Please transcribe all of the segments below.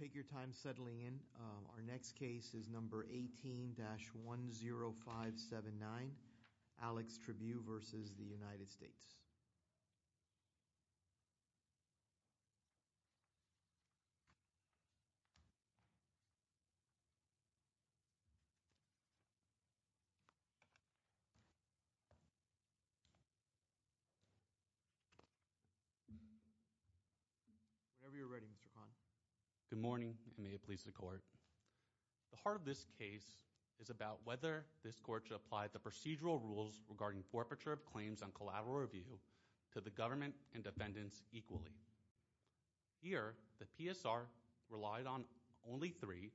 Take your time settling in. Our next case is number 18-10579, Alex Tribue v. United States. Whenever you're ready, Mr. Hahn. Good morning, and may it please the Court. The heart of this case is about whether this Court should apply the procedural rules regarding forfeiture of claims on collateral review to the government and defendants equally. Here, the PSR relied on only three,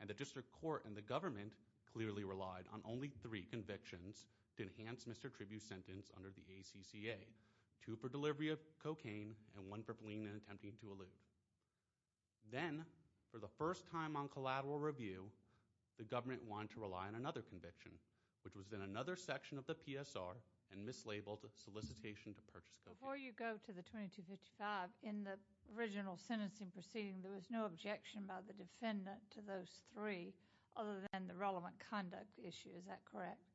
and the District Court and the government clearly relied on only three convictions to enhance Mr. Tribue's sentence under the ACCA. Two for delivery of cocaine, and one for fleeing and attempting to elude. Then, for the first time on collateral review, the government wanted to rely on another conviction, which was in another section of the PSR and mislabeled solicitation to purchase cocaine. Before you go to the 2255, in the original sentencing proceeding, there was no objection by the defendant to those three other than the relevant conduct issue. Is that correct?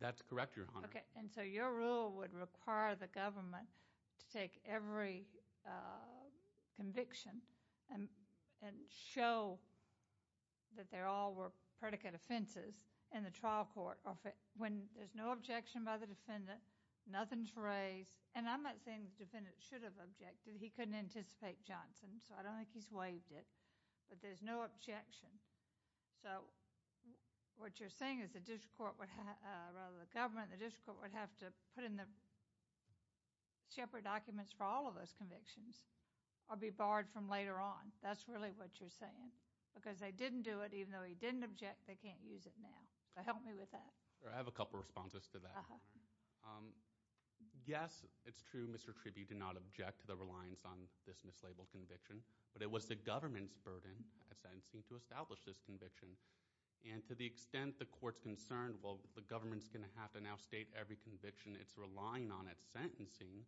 That's correct, Your Honor. Okay, and so your rule would require the government to take every conviction and show that they all were predicate offenses in the trial court. When there's no objection by the defendant, nothing's raised, and I'm not saying the defendant should have objected. He couldn't anticipate Johnson, so I don't think he's waived it, but there's no objection. So, what you're saying is the government and the District Court would have to put in the separate documents for all of those convictions or be barred from later on. That's really what you're saying, because they didn't do it, even though he didn't object, they can't use it now. Help me with that. I have a couple of responses to that, Your Honor. Yes, it's true, Mr. Tribby did not object to the reliance on this mislabeled conviction, but it was the government's burden at sentencing to establish this conviction. And to the extent the court's concerned, well, the government's going to have to now state every conviction it's relying on at sentencing,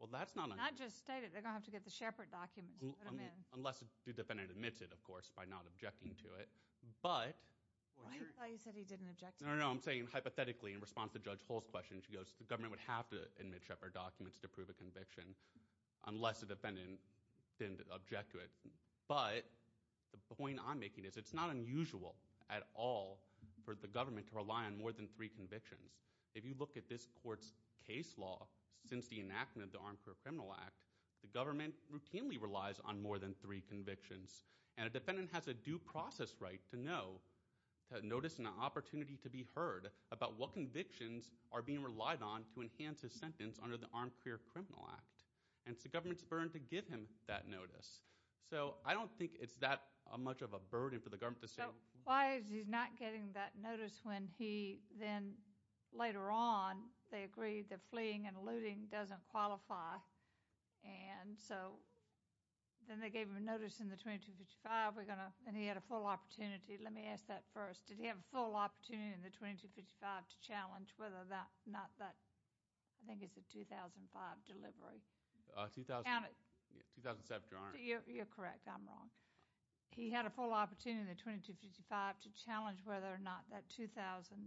well, that's not— Not just state it. They're going to have to get the Shepard documents and put them in. Unless the defendant admits it, of course, by not objecting to it, but— No, no, no, I'm saying hypothetically in response to Judge Hull's question, she goes, the government would have to admit Shepard documents to prove a conviction unless the defendant didn't object to it. But the point I'm making is it's not unusual at all for the government to rely on more than three convictions. If you look at this court's case law since the enactment of the Armed Career Criminal Act, the government routinely relies on more than three convictions. And a defendant has a due process right to know, to notice, and an opportunity to be heard about what convictions are being relied on to enhance his sentence under the Armed Career Criminal Act. And it's the government's burden to give him that notice. So I don't think it's that much of a burden for the government to say— Why is he not getting that notice when he then, later on, they agreed that fleeing and looting doesn't qualify? And so then they gave him a notice in the 2255, and he had a full opportunity. Let me ask that first. Did he have a full opportunity in the 2255 to challenge whether or not that—I think it's a 2005 delivery. 2007, Your Honor. You're correct. I'm wrong. He had a full opportunity in the 2255 to challenge whether or not that 2007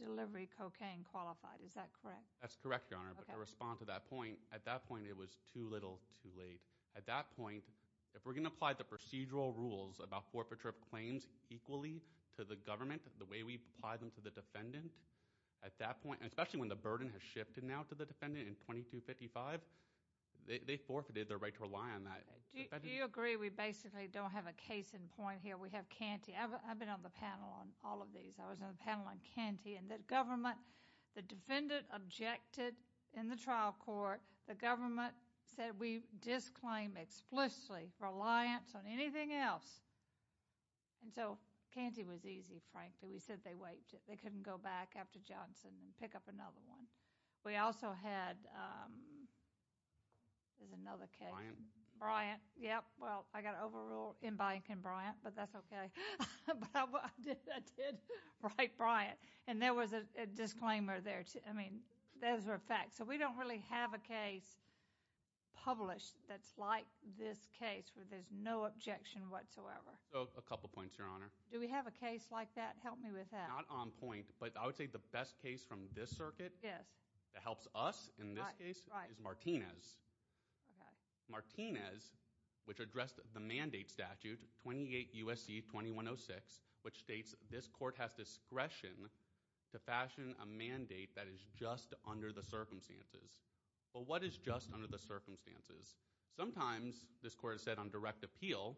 delivery cocaine qualified. Is that correct? That's correct, Your Honor. Okay. But to respond to that point, at that point it was too little too late. At that point, if we're going to apply the procedural rules about forfeiture of claims equally to the government the way we've applied them to the defendant, at that point— especially when the burden has shifted now to the defendant in 2255, they forfeited their right to rely on that. Do you agree we basically don't have a case in point here? We have Canty. I've been on the panel on all of these. I was on the panel on Canty, and the government—the defendant objected in the trial court. The government said we disclaim explicitly reliance on anything else. And so Canty was easy, frankly. We said they wiped it. They couldn't go back after Johnson and pick up another one. We also had—there's another case. Bryant? Bryant, yep. Well, I got overruled in Bryant v. Bryant, but that's okay. But I did write Bryant, and there was a disclaimer there. I mean, those are facts. So we don't really have a case published that's like this case where there's no objection whatsoever. A couple points, Your Honor. Do we have a case like that? Help me with that. Not on point, but I would say the best case from this circuit that helps us in this case is Martinez. Martinez, which addressed the mandate statute, 28 U.S.C. 2106, which states this court has discretion to fashion a mandate that is just under the circumstances. Well, what is just under the circumstances? Sometimes, this court has said on direct appeal,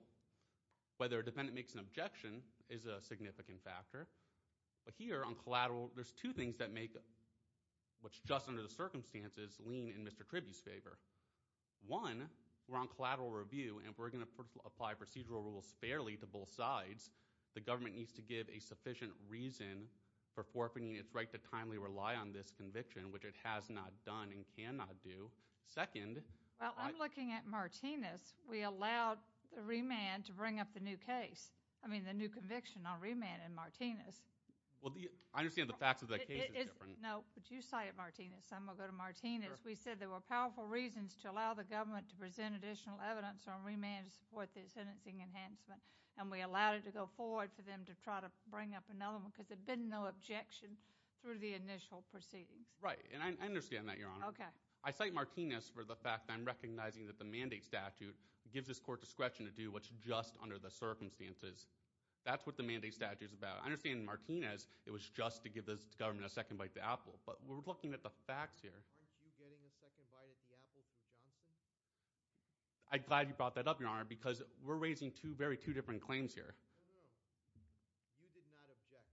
whether a defendant makes an objection is a significant factor. But here on collateral, there's two things that make what's just under the circumstances lean in Mr. Tribune's favor. One, we're on collateral review, and if we're going to apply procedural rules fairly to both sides, the government needs to give a sufficient reason for forfeiting its right to timely rely on this conviction, which it has not done and cannot do. Second— Well, I'm looking at Martinez. We allowed the remand to bring up the new case, I mean the new conviction on remand in Martinez. Well, I understand the facts of that case is different. No, but you cited Martinez. I'm going to go to Martinez. We said there were powerful reasons to allow the government to present additional evidence on remand to support the sentencing enhancement, and we allowed it to go forward for them to try to bring up another one because there had been no objection through the initial proceedings. Right, and I understand that, Your Honor. Okay. I cite Martinez for the fact that I'm recognizing that the mandate statute gives this court discretion to do what's just under the circumstances. That's what the mandate statute is about. I understand in Martinez it was just to give this government a second bite at the apple, but we're looking at the facts here. Aren't you getting a second bite at the apple through Johnson? I'm glad you brought that up, Your Honor, because we're raising two very different claims here. No, no. You did not object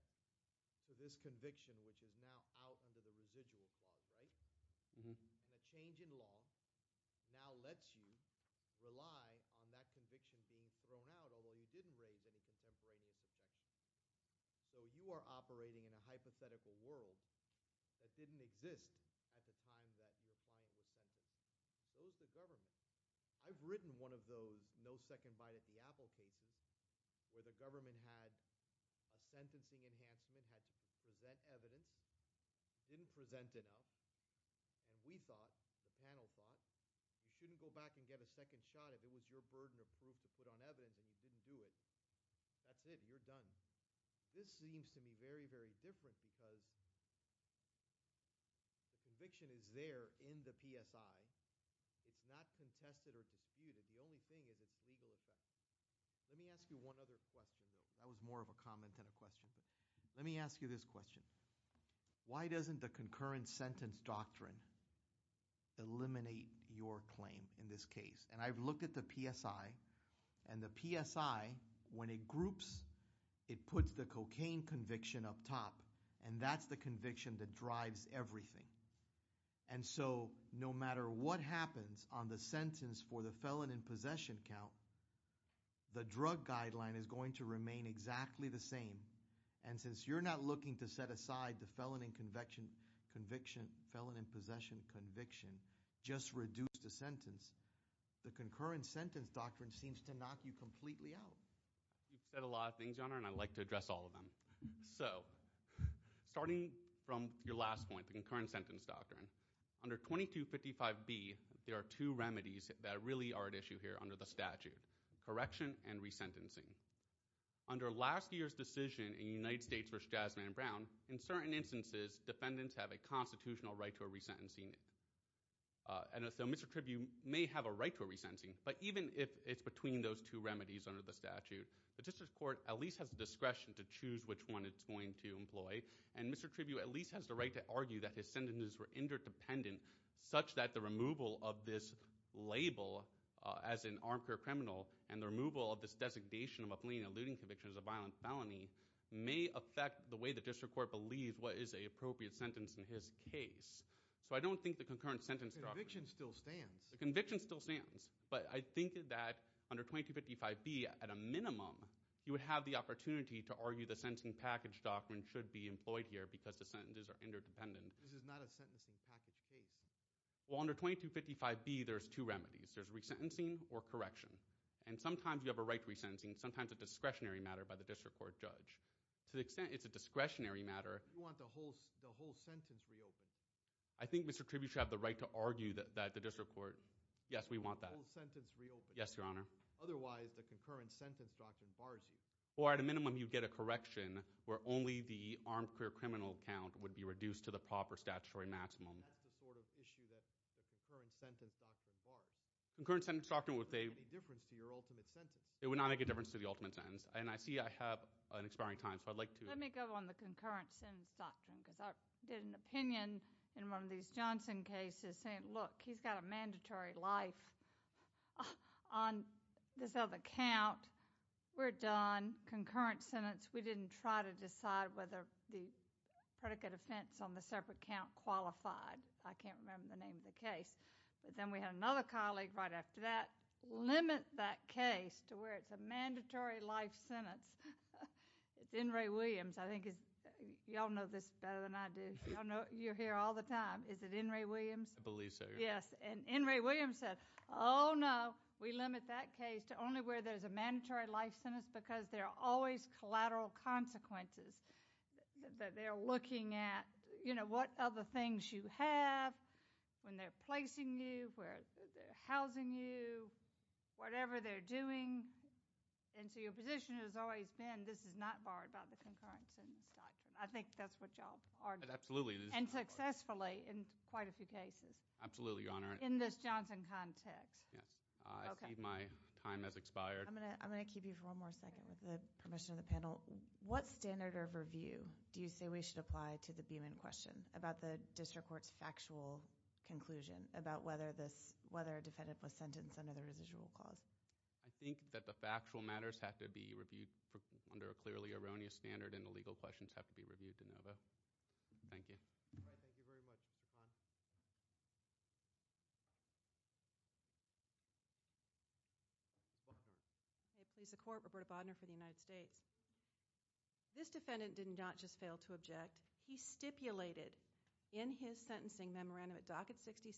to this conviction, which is now out under the residual bar, right? And a change in law now lets you rely on that conviction being thrown out, although you didn't raise any contemporaneous objections. So you are operating in a hypothetical world that didn't exist at the time that your client was sentenced. Those are governments. I've written one of those no second bite at the apple cases where the government had a sentencing enhancement, the government had to present evidence, didn't present enough, and we thought, the panel thought, you shouldn't go back and get a second shot if it was your burden of proof to put on evidence and you didn't do it. That's it. You're done. This seems to me very, very different because the conviction is there in the PSI. It's not contested or disputed. The only thing is it's legal effect. Let me ask you one other question, though. That was more of a comment than a question. Let me ask you this question. Why doesn't the concurrent sentence doctrine eliminate your claim in this case? And I've looked at the PSI, and the PSI, when it groups, it puts the cocaine conviction up top, and that's the conviction that drives everything. And so no matter what happens on the sentence for the felon in possession count, the drug guideline is going to remain exactly the same. And since you're not looking to set aside the felon in conviction, felon in possession conviction, just reduce the sentence, the concurrent sentence doctrine seems to knock you completely out. You've said a lot of things, Your Honor, and I'd like to address all of them. So starting from your last point, the concurrent sentence doctrine, under 2255B, there are two remedies that really are at issue here under the statute, correction and resentencing. Under last year's decision in United States v. Jasmine Brown, in certain instances, defendants have a constitutional right to a resentencing. And so Mr. Tribune may have a right to a resentencing, but even if it's between those two remedies under the statute, the district court at least has the discretion to choose which one it's going to employ. And Mr. Tribune at least has the right to argue that his sentences were interdependent, such that the removal of this label as an armchair criminal and the removal of this designation of a fleeing and looting conviction as a violent felony may affect the way the district court believes what is an appropriate sentence in his case. So I don't think the concurrent sentence doctrine – The conviction still stands. The conviction still stands, but I think that under 2255B, at a minimum, you would have the opportunity to argue the sentencing package doctrine should be employed here because the sentences are interdependent. This is not a sentencing package case. Well, under 2255B, there's two remedies. There's resentencing or correction. And sometimes you have a right to resentencing, sometimes a discretionary matter by the district court judge. To the extent it's a discretionary matter – You want the whole sentence reopened. I think Mr. Tribune should have the right to argue that the district court – Yes, we want that. The whole sentence reopened. Yes, Your Honor. Otherwise, the concurrent sentence doctrine bars you. Or at a minimum, you'd get a correction where only the armchair criminal count would be reduced to the proper statutory maximum. That's the sort of issue that the concurrent sentence doctrine bars. The concurrent sentence doctrine would – It wouldn't make any difference to your ultimate sentence. It would not make a difference to the ultimate sentence. And I see I have an expiring time, so I'd like to – Let me go on the concurrent sentence doctrine because I did an opinion in one of these Johnson cases saying, Look, he's got a mandatory life on this other count. We're done. Concurrent sentence. We didn't try to decide whether the predicate offense on the separate count qualified. I can't remember the name of the case. But then we had another colleague right after that limit that case to where it's a mandatory life sentence. It's N. Ray Williams. I think you all know this better than I do. You're here all the time. Is it N. Ray Williams? I believe so, Your Honor. Yes. And N. Ray Williams said, Oh, no. We limit that case to only where there's a mandatory life sentence because there are always collateral consequences. They're looking at, you know, what other things you have, when they're placing you, where they're housing you, whatever they're doing. And so your position has always been this is not barred by the concurrent sentence doctrine. I think that's what you all argue. Absolutely. And successfully in quite a few cases. Absolutely, Your Honor. In this Johnson context. Yes. I see my time has expired. I'm going to keep you for one more second with the permission of the panel. What standard of review do you say we should apply to the Beaman question about the district court's factual conclusion about whether a defendant was sentenced under the residual clause? I think that the factual matters have to be reviewed under a clearly erroneous standard, and the legal questions have to be reviewed de novo. Thank you. All right. Thank you very much, Mr. Kahn. Okay. Please, the Court. Roberta Bodner for the United States. This defendant did not just fail to object. He stipulated in his sentencing memorandum at Docket 66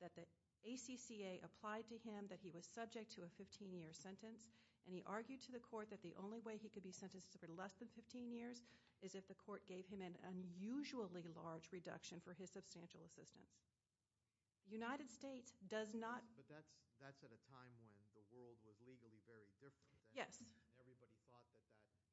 that the ACCA applied to him that he was subject to a 15-year sentence, and he argued to the court that the only way he could be sentenced for less than 15 years is if the court gave him an unusually large reduction for his substantial assistance. The United States does not – But that's at a time when the world was legally very different. Yes. Everybody thought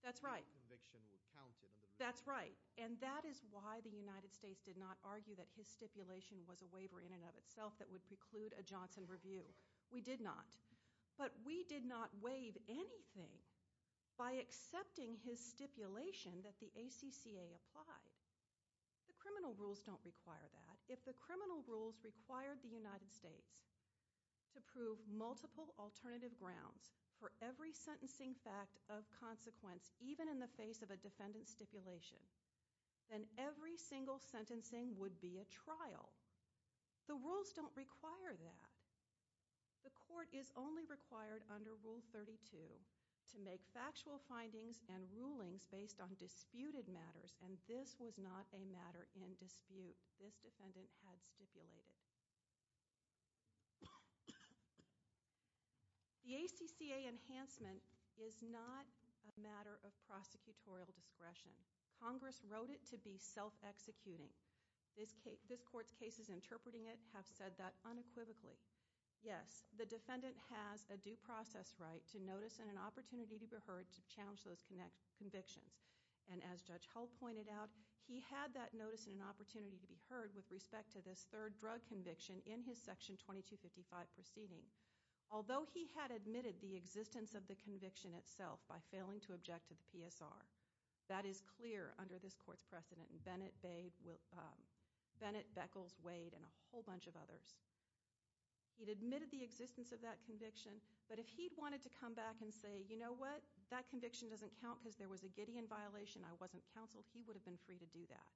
that that conviction would count. That's right, and that is why the United States did not argue that his stipulation was a waiver in and of itself that would preclude a Johnson review. We did not. But we did not waive anything by accepting his stipulation that the ACCA applied. The criminal rules don't require that. If the criminal rules required the United States to prove multiple alternative grounds for every sentencing fact of consequence, even in the face of a defendant's stipulation, then every single sentencing would be a trial. The rules don't require that. The court is only required under Rule 32 to make factual findings and rulings based on disputed matters, and this was not a matter in dispute. This defendant had stipulated. The ACCA enhancement is not a matter of prosecutorial discretion. Congress wrote it to be self-executing. This court's cases interpreting it have said that unequivocally. Yes, the defendant has a due process right to notice and an opportunity to be heard to challenge those convictions. And as Judge Hull pointed out, he had that notice and an opportunity to be heard with respect to this third drug conviction in his Section 2255 proceeding. Although he had admitted the existence of the conviction itself by failing to object to the PSR, that is clear under this court's precedent, and Bennett, Beckles, Wade, and a whole bunch of others. He'd admitted the existence of that conviction, but if he'd wanted to come back and say, you know what, that conviction doesn't count because there was a Gideon violation, I wasn't counseled, he would have been free to do that.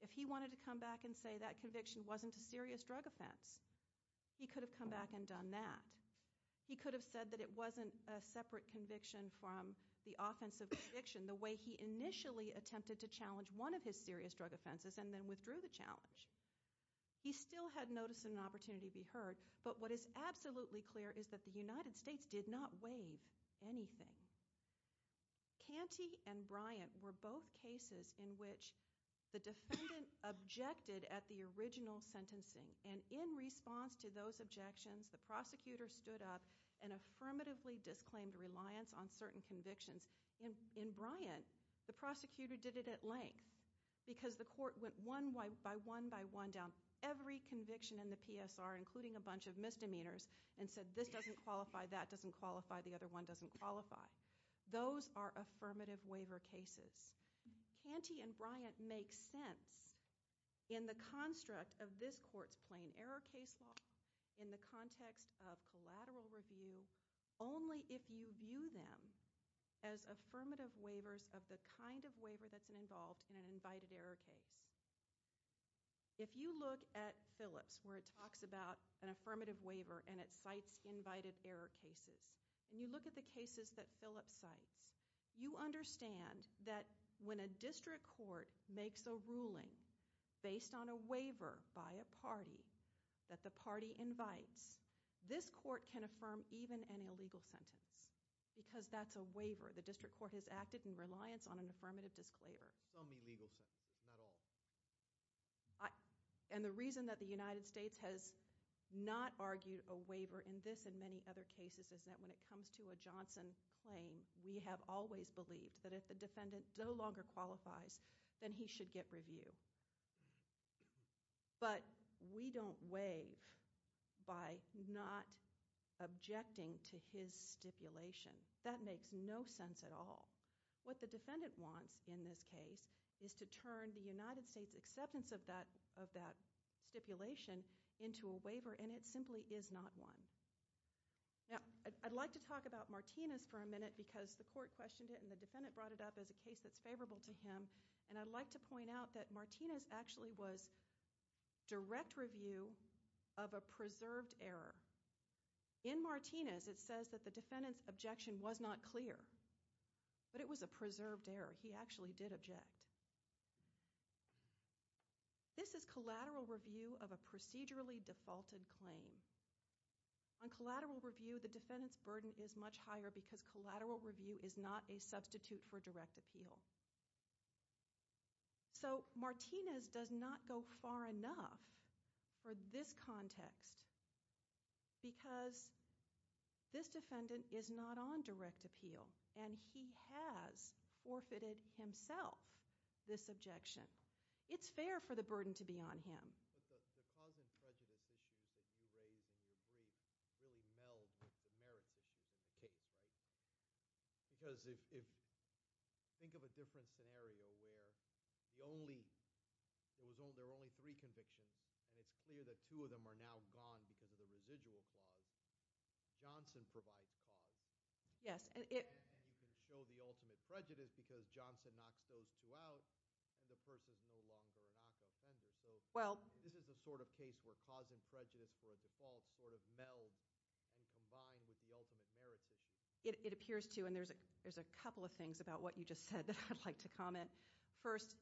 If he wanted to come back and say that conviction wasn't a serious drug offense, he could have come back and done that. He could have said that it wasn't a separate conviction from the offensive conviction, the way he initially attempted to challenge one of his serious drug offenses and then withdrew the challenge. He still had notice and an opportunity to be heard, but what is absolutely clear is that the United States did not waive anything. Canty and Bryant were both cases in which the defendant objected at the original sentencing, and in response to those objections, the prosecutor stood up and affirmatively disclaimed reliance on certain convictions. In Bryant, the prosecutor did it at length because the court went one by one by one down every conviction in the PSR, including a bunch of misdemeanors, and said this doesn't qualify, that doesn't qualify, the other one doesn't qualify. Those are affirmative waiver cases. Canty and Bryant make sense in the construct of this court's plain error case law, in the context of collateral review, only if you view them as affirmative waivers of the kind of waiver that's involved in an invited error case. If you look at Phillips, where it talks about an affirmative waiver and it cites invited error cases, and you look at the cases that Phillips cites, you understand that when a district court makes a ruling based on a waiver by a party that the party invites, this court can affirm even an illegal sentence, because that's a waiver. The district court has acted in reliance on an affirmative disclaimer. Some illegal sentences, not all. And the reason that the United States has not argued a waiver in this and many other cases is that when it comes to a Johnson claim, we have always believed that if the defendant no longer qualifies, then he should get review. But we don't waive by not objecting to his stipulation. That makes no sense at all. What the defendant wants in this case is to turn the United States' acceptance of that stipulation into a waiver, and it simply is not one. Now, I'd like to talk about Martinez for a minute because the court questioned it and the defendant brought it up as a case that's favorable to him, and I'd like to point out that Martinez actually was direct review of a preserved error. In Martinez, it says that the defendant's objection was not clear. But it was a preserved error. He actually did object. This is collateral review of a procedurally defaulted claim. On collateral review, the defendant's burden is much higher because collateral review is not a substitute for direct appeal. So Martinez does not go far enough for this context because this defendant is not on direct appeal, and he has forfeited himself this objection. It's fair for the burden to be on him. The cause and prejudice issues that you raised in your brief really meld with the merits issues in the case, right? Because if – think of a different scenario where the only – there were only three convictions, and it's clear that two of them are now gone because of the residual clause. Johnson provides cause. Yes. And you can show the ultimate prejudice because Johnson knocks those two out, and the person is no longer a knockoff offender. So this is the sort of case where cause and prejudice for a default sort of meld and combine with the ultimate merits issue. It appears to, and there's a couple of things about what you just said that I'd like to comment. First,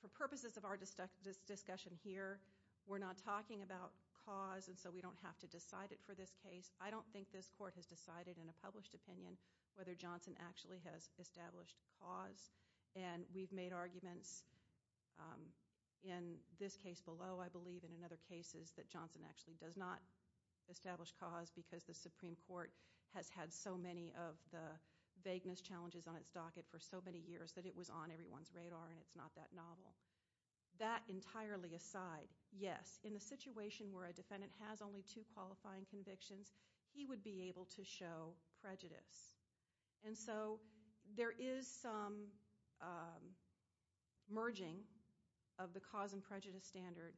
for purposes of our discussion here, we're not talking about cause, and so we don't have to decide it for this case. I don't think this court has decided in a published opinion whether Johnson actually has established cause. And we've made arguments in this case below, I believe, and in other cases that Johnson actually does not establish cause because the Supreme Court has had so many of the vagueness challenges on its docket for so many years that it was on everyone's radar, and it's not that novel. That entirely aside, yes, in a situation where a defendant has only two qualifying convictions, he would be able to show prejudice. And so there is some merging of the cause and prejudice standard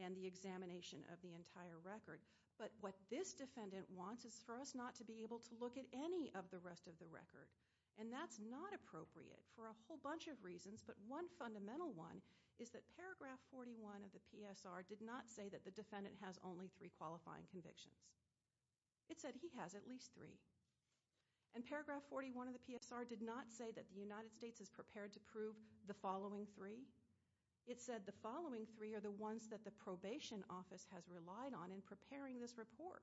and the examination of the entire record, but what this defendant wants is for us not to be able to look at any of the rest of the record, and that's not appropriate for a whole bunch of reasons, but one fundamental one is that paragraph 41 of the PSR did not say that the defendant has only three qualifying convictions. It said he has at least three. And paragraph 41 of the PSR did not say that the United States is prepared to prove the following three. It said the following three are the ones that the probation office has relied on in preparing this report.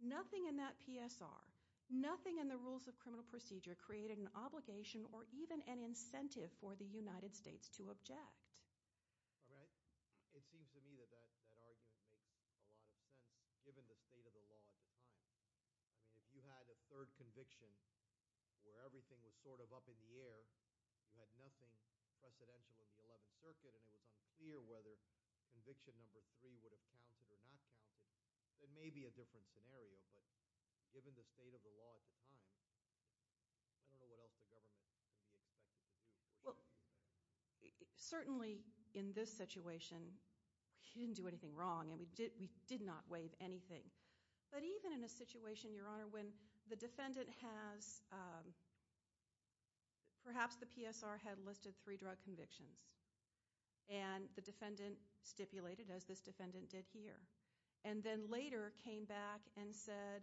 Nothing in that PSR, nothing in the rules of criminal procedure created an obligation or even an incentive for the United States to object. All right. It seems to me that that argument makes a lot of sense given the state of the law at the time. If you had a third conviction where everything was sort of up in the air, you had nothing precedential in the Eleventh Circuit, and it was unclear whether conviction number three would have counted or not counted, it may be a different scenario, but given the state of the law at the time, I don't know what else the government can be expected to do. Well, certainly in this situation, we didn't do anything wrong, and we did not waive anything. But even in a situation, Your Honor, when the defendant has—perhaps the PSR had listed three drug convictions, and the defendant stipulated, as this defendant did here, and then later came back and said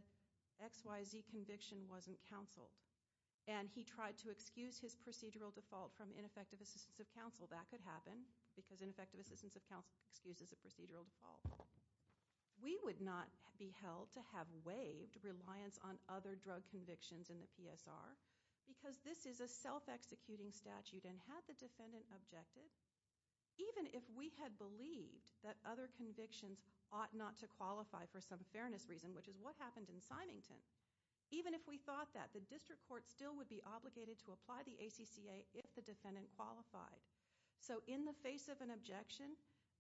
XYZ conviction wasn't counseled, and he tried to excuse his procedural default from ineffective assistance of counsel, that could happen because ineffective assistance of counsel excuses a procedural default. We would not be held to have waived reliance on other drug convictions in the PSR because this is a self-executing statute, and had the defendant objected, even if we had believed that other convictions ought not to qualify for some fairness reason, which is what happened in Symington, even if we thought that the district court still would be obligated to apply the ACCA if the defendant qualified. So in the face of an objection,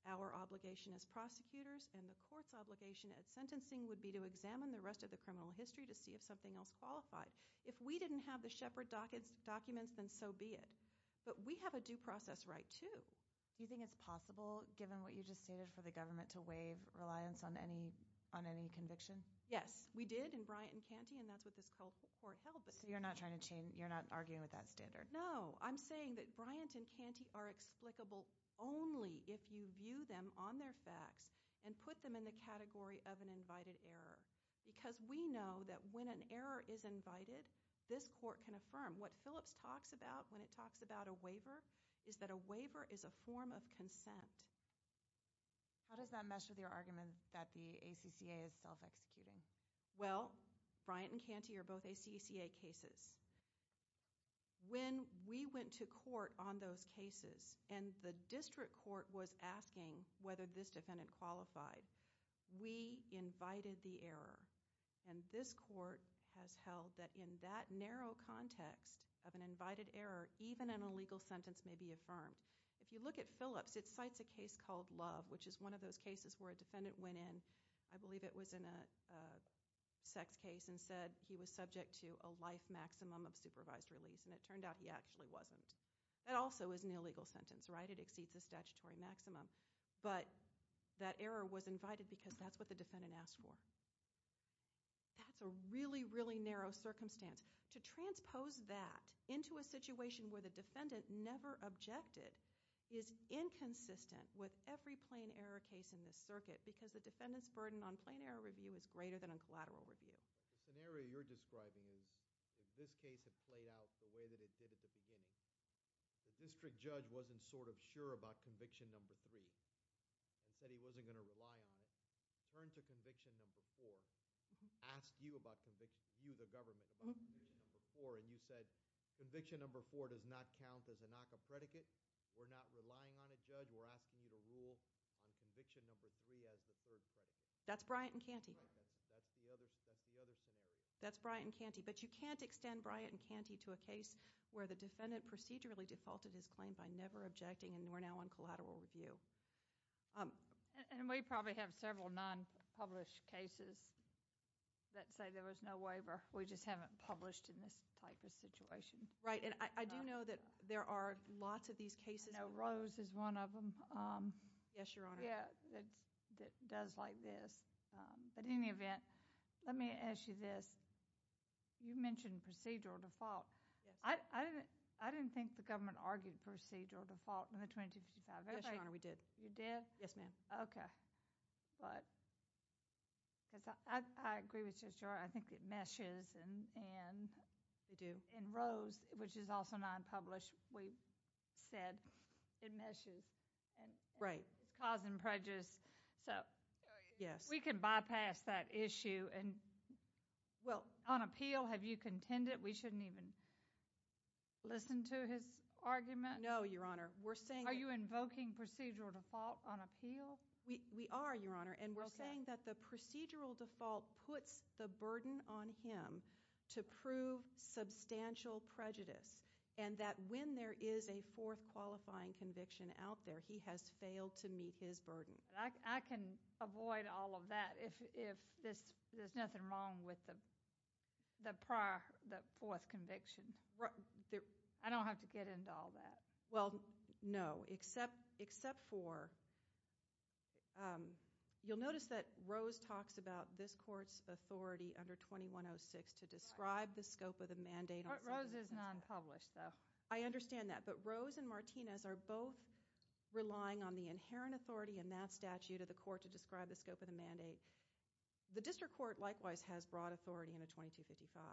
our obligation as prosecutors and the court's obligation at sentencing would be to examine the rest of the criminal history to see if something else qualified. If we didn't have the Shepard documents, then so be it. But we have a due process right, too. Do you think it's possible, given what you just stated, for the government to waive reliance on any conviction? Yes, we did in Bryant and Canty, and that's what this court held. So you're not arguing with that standard? No, I'm saying that Bryant and Canty are explicable only if you view them on their facts and put them in the category of an invited error, because we know that when an error is invited, this court can affirm. What Phillips talks about when it talks about a waiver is that a waiver is a form of consent. How does that mesh with your argument that the ACCA is self-executing? Well, Bryant and Canty are both ACCA cases. When we went to court on those cases and the district court was asking whether this defendant qualified, we invited the error, and this court has held that in that narrow context of an invited error, even an illegal sentence may be affirmed. If you look at Phillips, it cites a case called Love, which is one of those cases where a defendant went in, I believe it was in a sex case, and said he was subject to a life maximum of supervised release, and it turned out he actually wasn't. That also is an illegal sentence, right? It exceeds the statutory maximum. But that error was invited because that's what the defendant asked for. That's a really, really narrow circumstance. To transpose that into a situation where the defendant never objected is inconsistent with every plain error case in this circuit because the defendant's burden on plain error review is greater than on collateral review. The scenario you're describing is that this case had played out the way that it did at the beginning. The district judge wasn't sort of sure about conviction number three and said he wasn't going to rely on it. He turned to conviction number four, asked you the government about conviction number four, and you said conviction number four does not count as a NACA predicate. We're not relying on it, Judge. We're asking you to rule on conviction number three as the third predicate. That's Bryant and Canty. That's the other scenario. That's Bryant and Canty. But you can't extend Bryant and Canty to a case where the defendant procedurally defaulted his claim by never objecting, and we're now on collateral review. And we probably have several non-published cases that say there was no waiver. We just haven't published in this type of situation. Right, and I do know that there are lots of these cases. I know Rose is one of them. Yes, Your Honor. Yeah, that does like this. But in any event, let me ask you this. You mentioned procedural default. Yes. I didn't think the government argued procedural default in the 2255. Yes, Your Honor, we did. You did? Yes, ma'am. Okay. But I agree with you, Your Honor. I think it meshes, and in Rose, which is also non-published, we said it meshes. Right. It's causing prejudice. So we can bypass that issue. Well, on appeal, have you contended we shouldn't even listen to his argument? No, Your Honor. Are you invoking procedural default on appeal? We are, Your Honor. Okay. And we're saying that the procedural default puts the burden on him to prove substantial prejudice and that when there is a fourth qualifying conviction out there, he has failed to meet his burden. I can avoid all of that if there's nothing wrong with the fourth conviction. I don't have to get into all that. Well, no, except for, you'll notice that Rose talks about this court's authority under 2106 to describe the scope of the mandate. Rose is non-published, though. I understand that. But Rose and Martinez are both relying on the inherent authority in that statute of the court to describe the scope of the mandate. The district court, likewise, has broad authority in the 2255.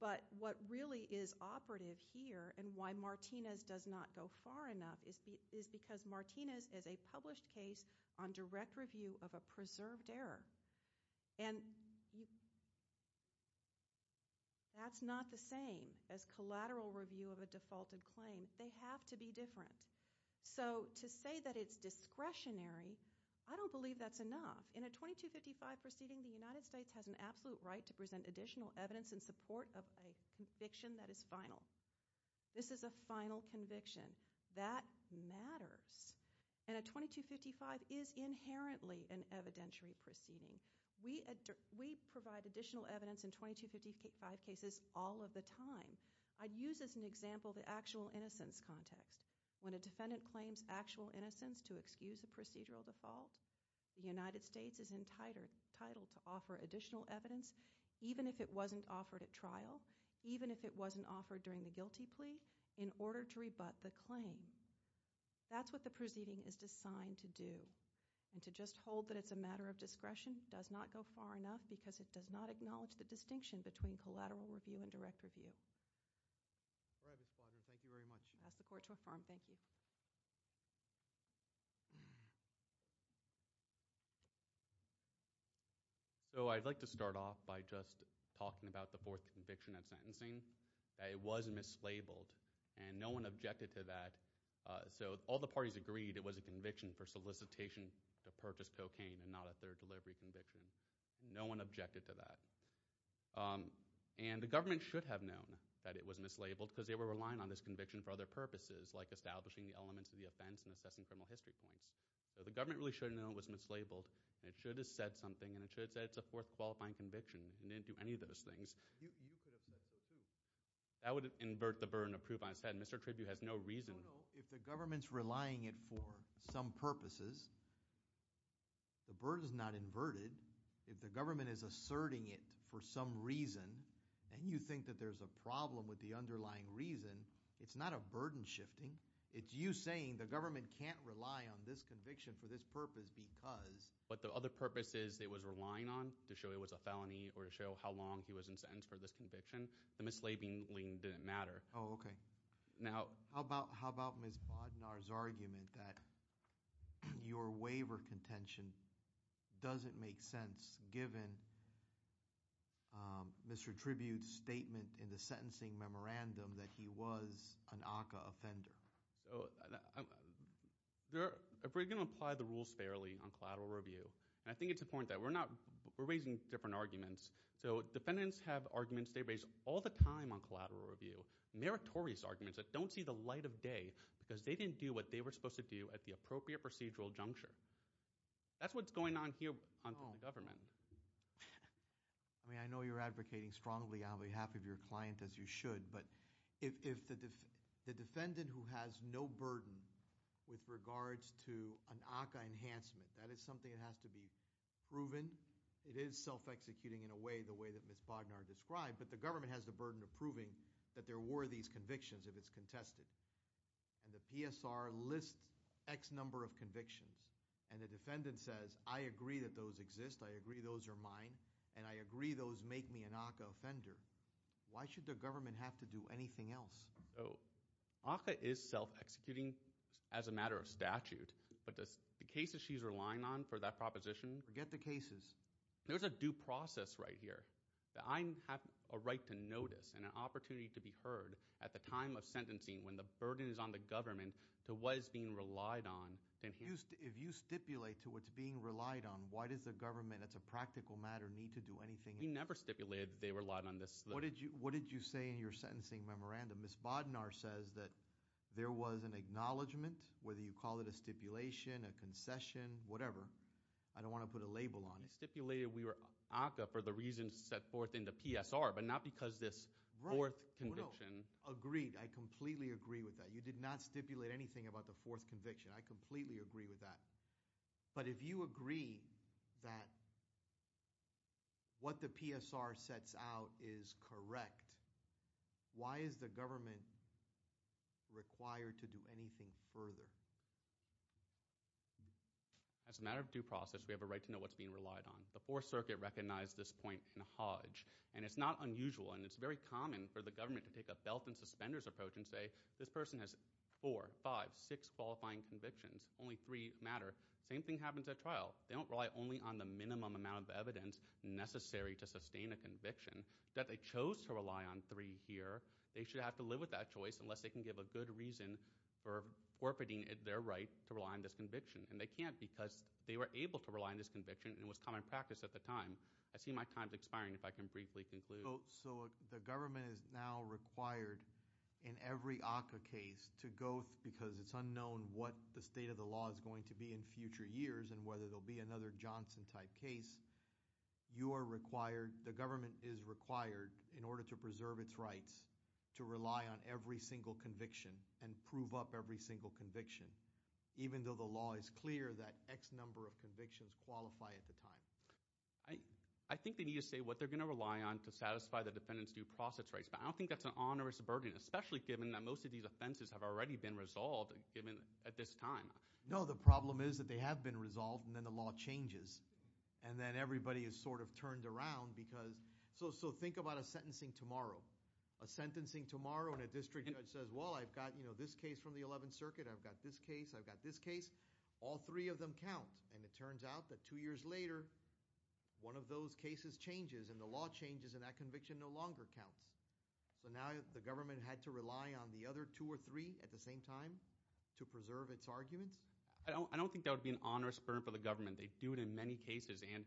But what really is operative here and why Martinez does not go far enough is because Martinez is a published case on direct review of a preserved error. And that's not the same as collateral review of a defaulted claim. They have to be different. So to say that it's discretionary, I don't believe that's enough. In a 2255 proceeding, the United States has an absolute right to present additional evidence in support of a conviction that is final. This is a final conviction. That matters. And a 2255 is inherently an evidentiary proceeding. We provide additional evidence in 2255 cases all of the time. I'd use as an example the actual innocence context. When a defendant claims actual innocence to excuse a procedural default, the United States is entitled to offer additional evidence, even if it wasn't offered at trial, even if it wasn't offered during the guilty plea, in order to rebut the claim. That's what the proceeding is designed to do. And to just hold that it's a matter of discretion does not go far enough because it does not acknowledge the distinction between collateral review and direct review. All right, Ms. Quadron, thank you very much. I'll ask the court to affirm. Thank you. So I'd like to start off by just talking about the fourth conviction at sentencing. It was mislabeled, and no one objected to that. So all the parties agreed it was a conviction for solicitation to purchase cocaine and not a third delivery conviction. No one objected to that. And the government should have known that it was mislabeled because they were relying on this conviction for other purposes, like establishing the elements of the offense and assessing criminal history points. So the government really should have known it was mislabeled, and it should have said something, and it should have said it's a fourth qualifying conviction. It didn't do any of those things. That would invert the burden of proof. I said Mr. Tribune has no reason. No, no, if the government's relying it for some purposes, the burden's not inverted. If the government is asserting it for some reason, and you think that there's a problem with the underlying reason, it's not a burden shifting. It's you saying the government can't rely on this conviction for this purpose because. But the other purpose is it was relying on to show it was a felony or to show how long he was in sentence for this conviction. The mislabeling didn't matter. Oh, okay. How about Ms. Bodnar's argument that your waiver contention doesn't make sense given Mr. Tribune's statement in the sentencing memorandum that he was an ACCA offender? So if we're going to apply the rules fairly on collateral review, and I think it's important that we're not – we're raising different arguments. So defendants have arguments they raise all the time on collateral review, meritorious arguments that don't see the light of day because they didn't do what they were supposed to do at the appropriate procedural juncture. That's what's going on here under the government. I mean I know you're advocating strongly on behalf of your client as you should, but if the defendant who has no burden with regards to an ACCA enhancement, that is something that has to be proven. It is self-executing in a way the way that Ms. Bodnar described, but the government has the burden of proving that there were these convictions if it's contested. And the PSR lists X number of convictions, and the defendant says, I agree that those exist, I agree those are mine, and I agree those make me an ACCA offender. Why should the government have to do anything else? So ACCA is self-executing as a matter of statute, but the cases she's relying on for that proposition – Forget the cases. There's a due process right here. I have a right to notice and an opportunity to be heard at the time of sentencing when the burden is on the government to what is being relied on. If you stipulate to what's being relied on, why does the government as a practical matter need to do anything? We never stipulated that they relied on this. What did you say in your sentencing memorandum? Ms. Bodnar says that there was an acknowledgment, whether you call it a stipulation, a concession, whatever. I don't want to put a label on it. We stipulated we were ACCA for the reasons set forth in the PSR, but not because this fourth conviction. Agreed. I completely agree with that. You did not stipulate anything about the fourth conviction. I completely agree with that. But if you agree that what the PSR sets out is correct, why is the government required to do anything further? As a matter of due process, we have a right to know what's being relied on. The Fourth Circuit recognized this point in Hodge, and it's not unusual and it's very common for the government to take a belt and suspenders approach and say, this person has four, five, six qualifying convictions. Only three matter. Same thing happens at trial. They don't rely only on the minimum amount of evidence necessary to sustain a conviction. That they chose to rely on three here, they should have to live with that choice unless they can give a good reason for forfeiting their right to rely on this conviction. And they can't because they were able to rely on this conviction and it was common practice at the time. I see my time is expiring if I can briefly conclude. So the government is now required in every ACCA case to go because it's unknown what the state of the law is going to be in future years and whether there will be another Johnson type case. You are required, the government is required, in order to preserve its rights to rely on every single conviction and prove up every single conviction, even though the law is clear that X number of convictions qualify at the time. I think they need to say what they're going to rely on to satisfy the defendant's due process rights. But I don't think that's an onerous burden, especially given that most of these offenses have already been resolved at this time. No, the problem is that they have been resolved and then the law changes and then everybody is sort of turned around because – so think about a sentencing tomorrow. A sentencing tomorrow and a district judge says, well, I've got this case from the 11th Circuit. I've got this case. I've got this case. All three of them count. And it turns out that two years later, one of those cases changes and the law changes and that conviction no longer counts. So now the government had to rely on the other two or three at the same time to preserve its arguments? I don't think that would be an onerous burden for the government. They do it in many cases. And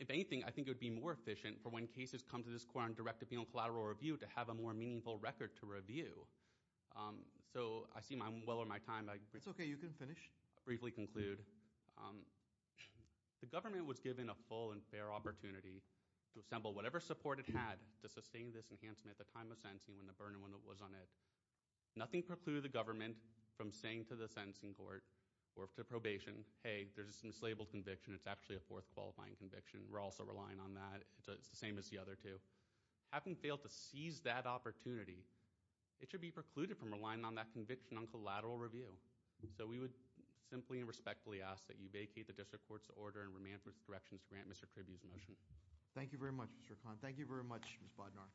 if anything, I think it would be more efficient for when cases come to this court on direct or penal collateral review to have a more meaningful record to review. So I see I'm well on my time. It's okay. You can finish. I'll briefly conclude. The government was given a full and fair opportunity to assemble whatever support it had to sustain this enhancement at the time of sentencing when the burden was on it. Nothing precluded the government from saying to the sentencing court or to probation, hey, there's this enslaved conviction. It's actually a fourth qualifying conviction. We're also relying on that. It's the same as the other two. Having failed to seize that opportunity, it should be precluded from relying on that conviction on collateral review. So we would simply and respectfully ask that you vacate the district court's order and remand for its directions to grant Mr. Kribbe's motion. Thank you very much, Mr. Khan. Thank you very much, Ms. Bodnar.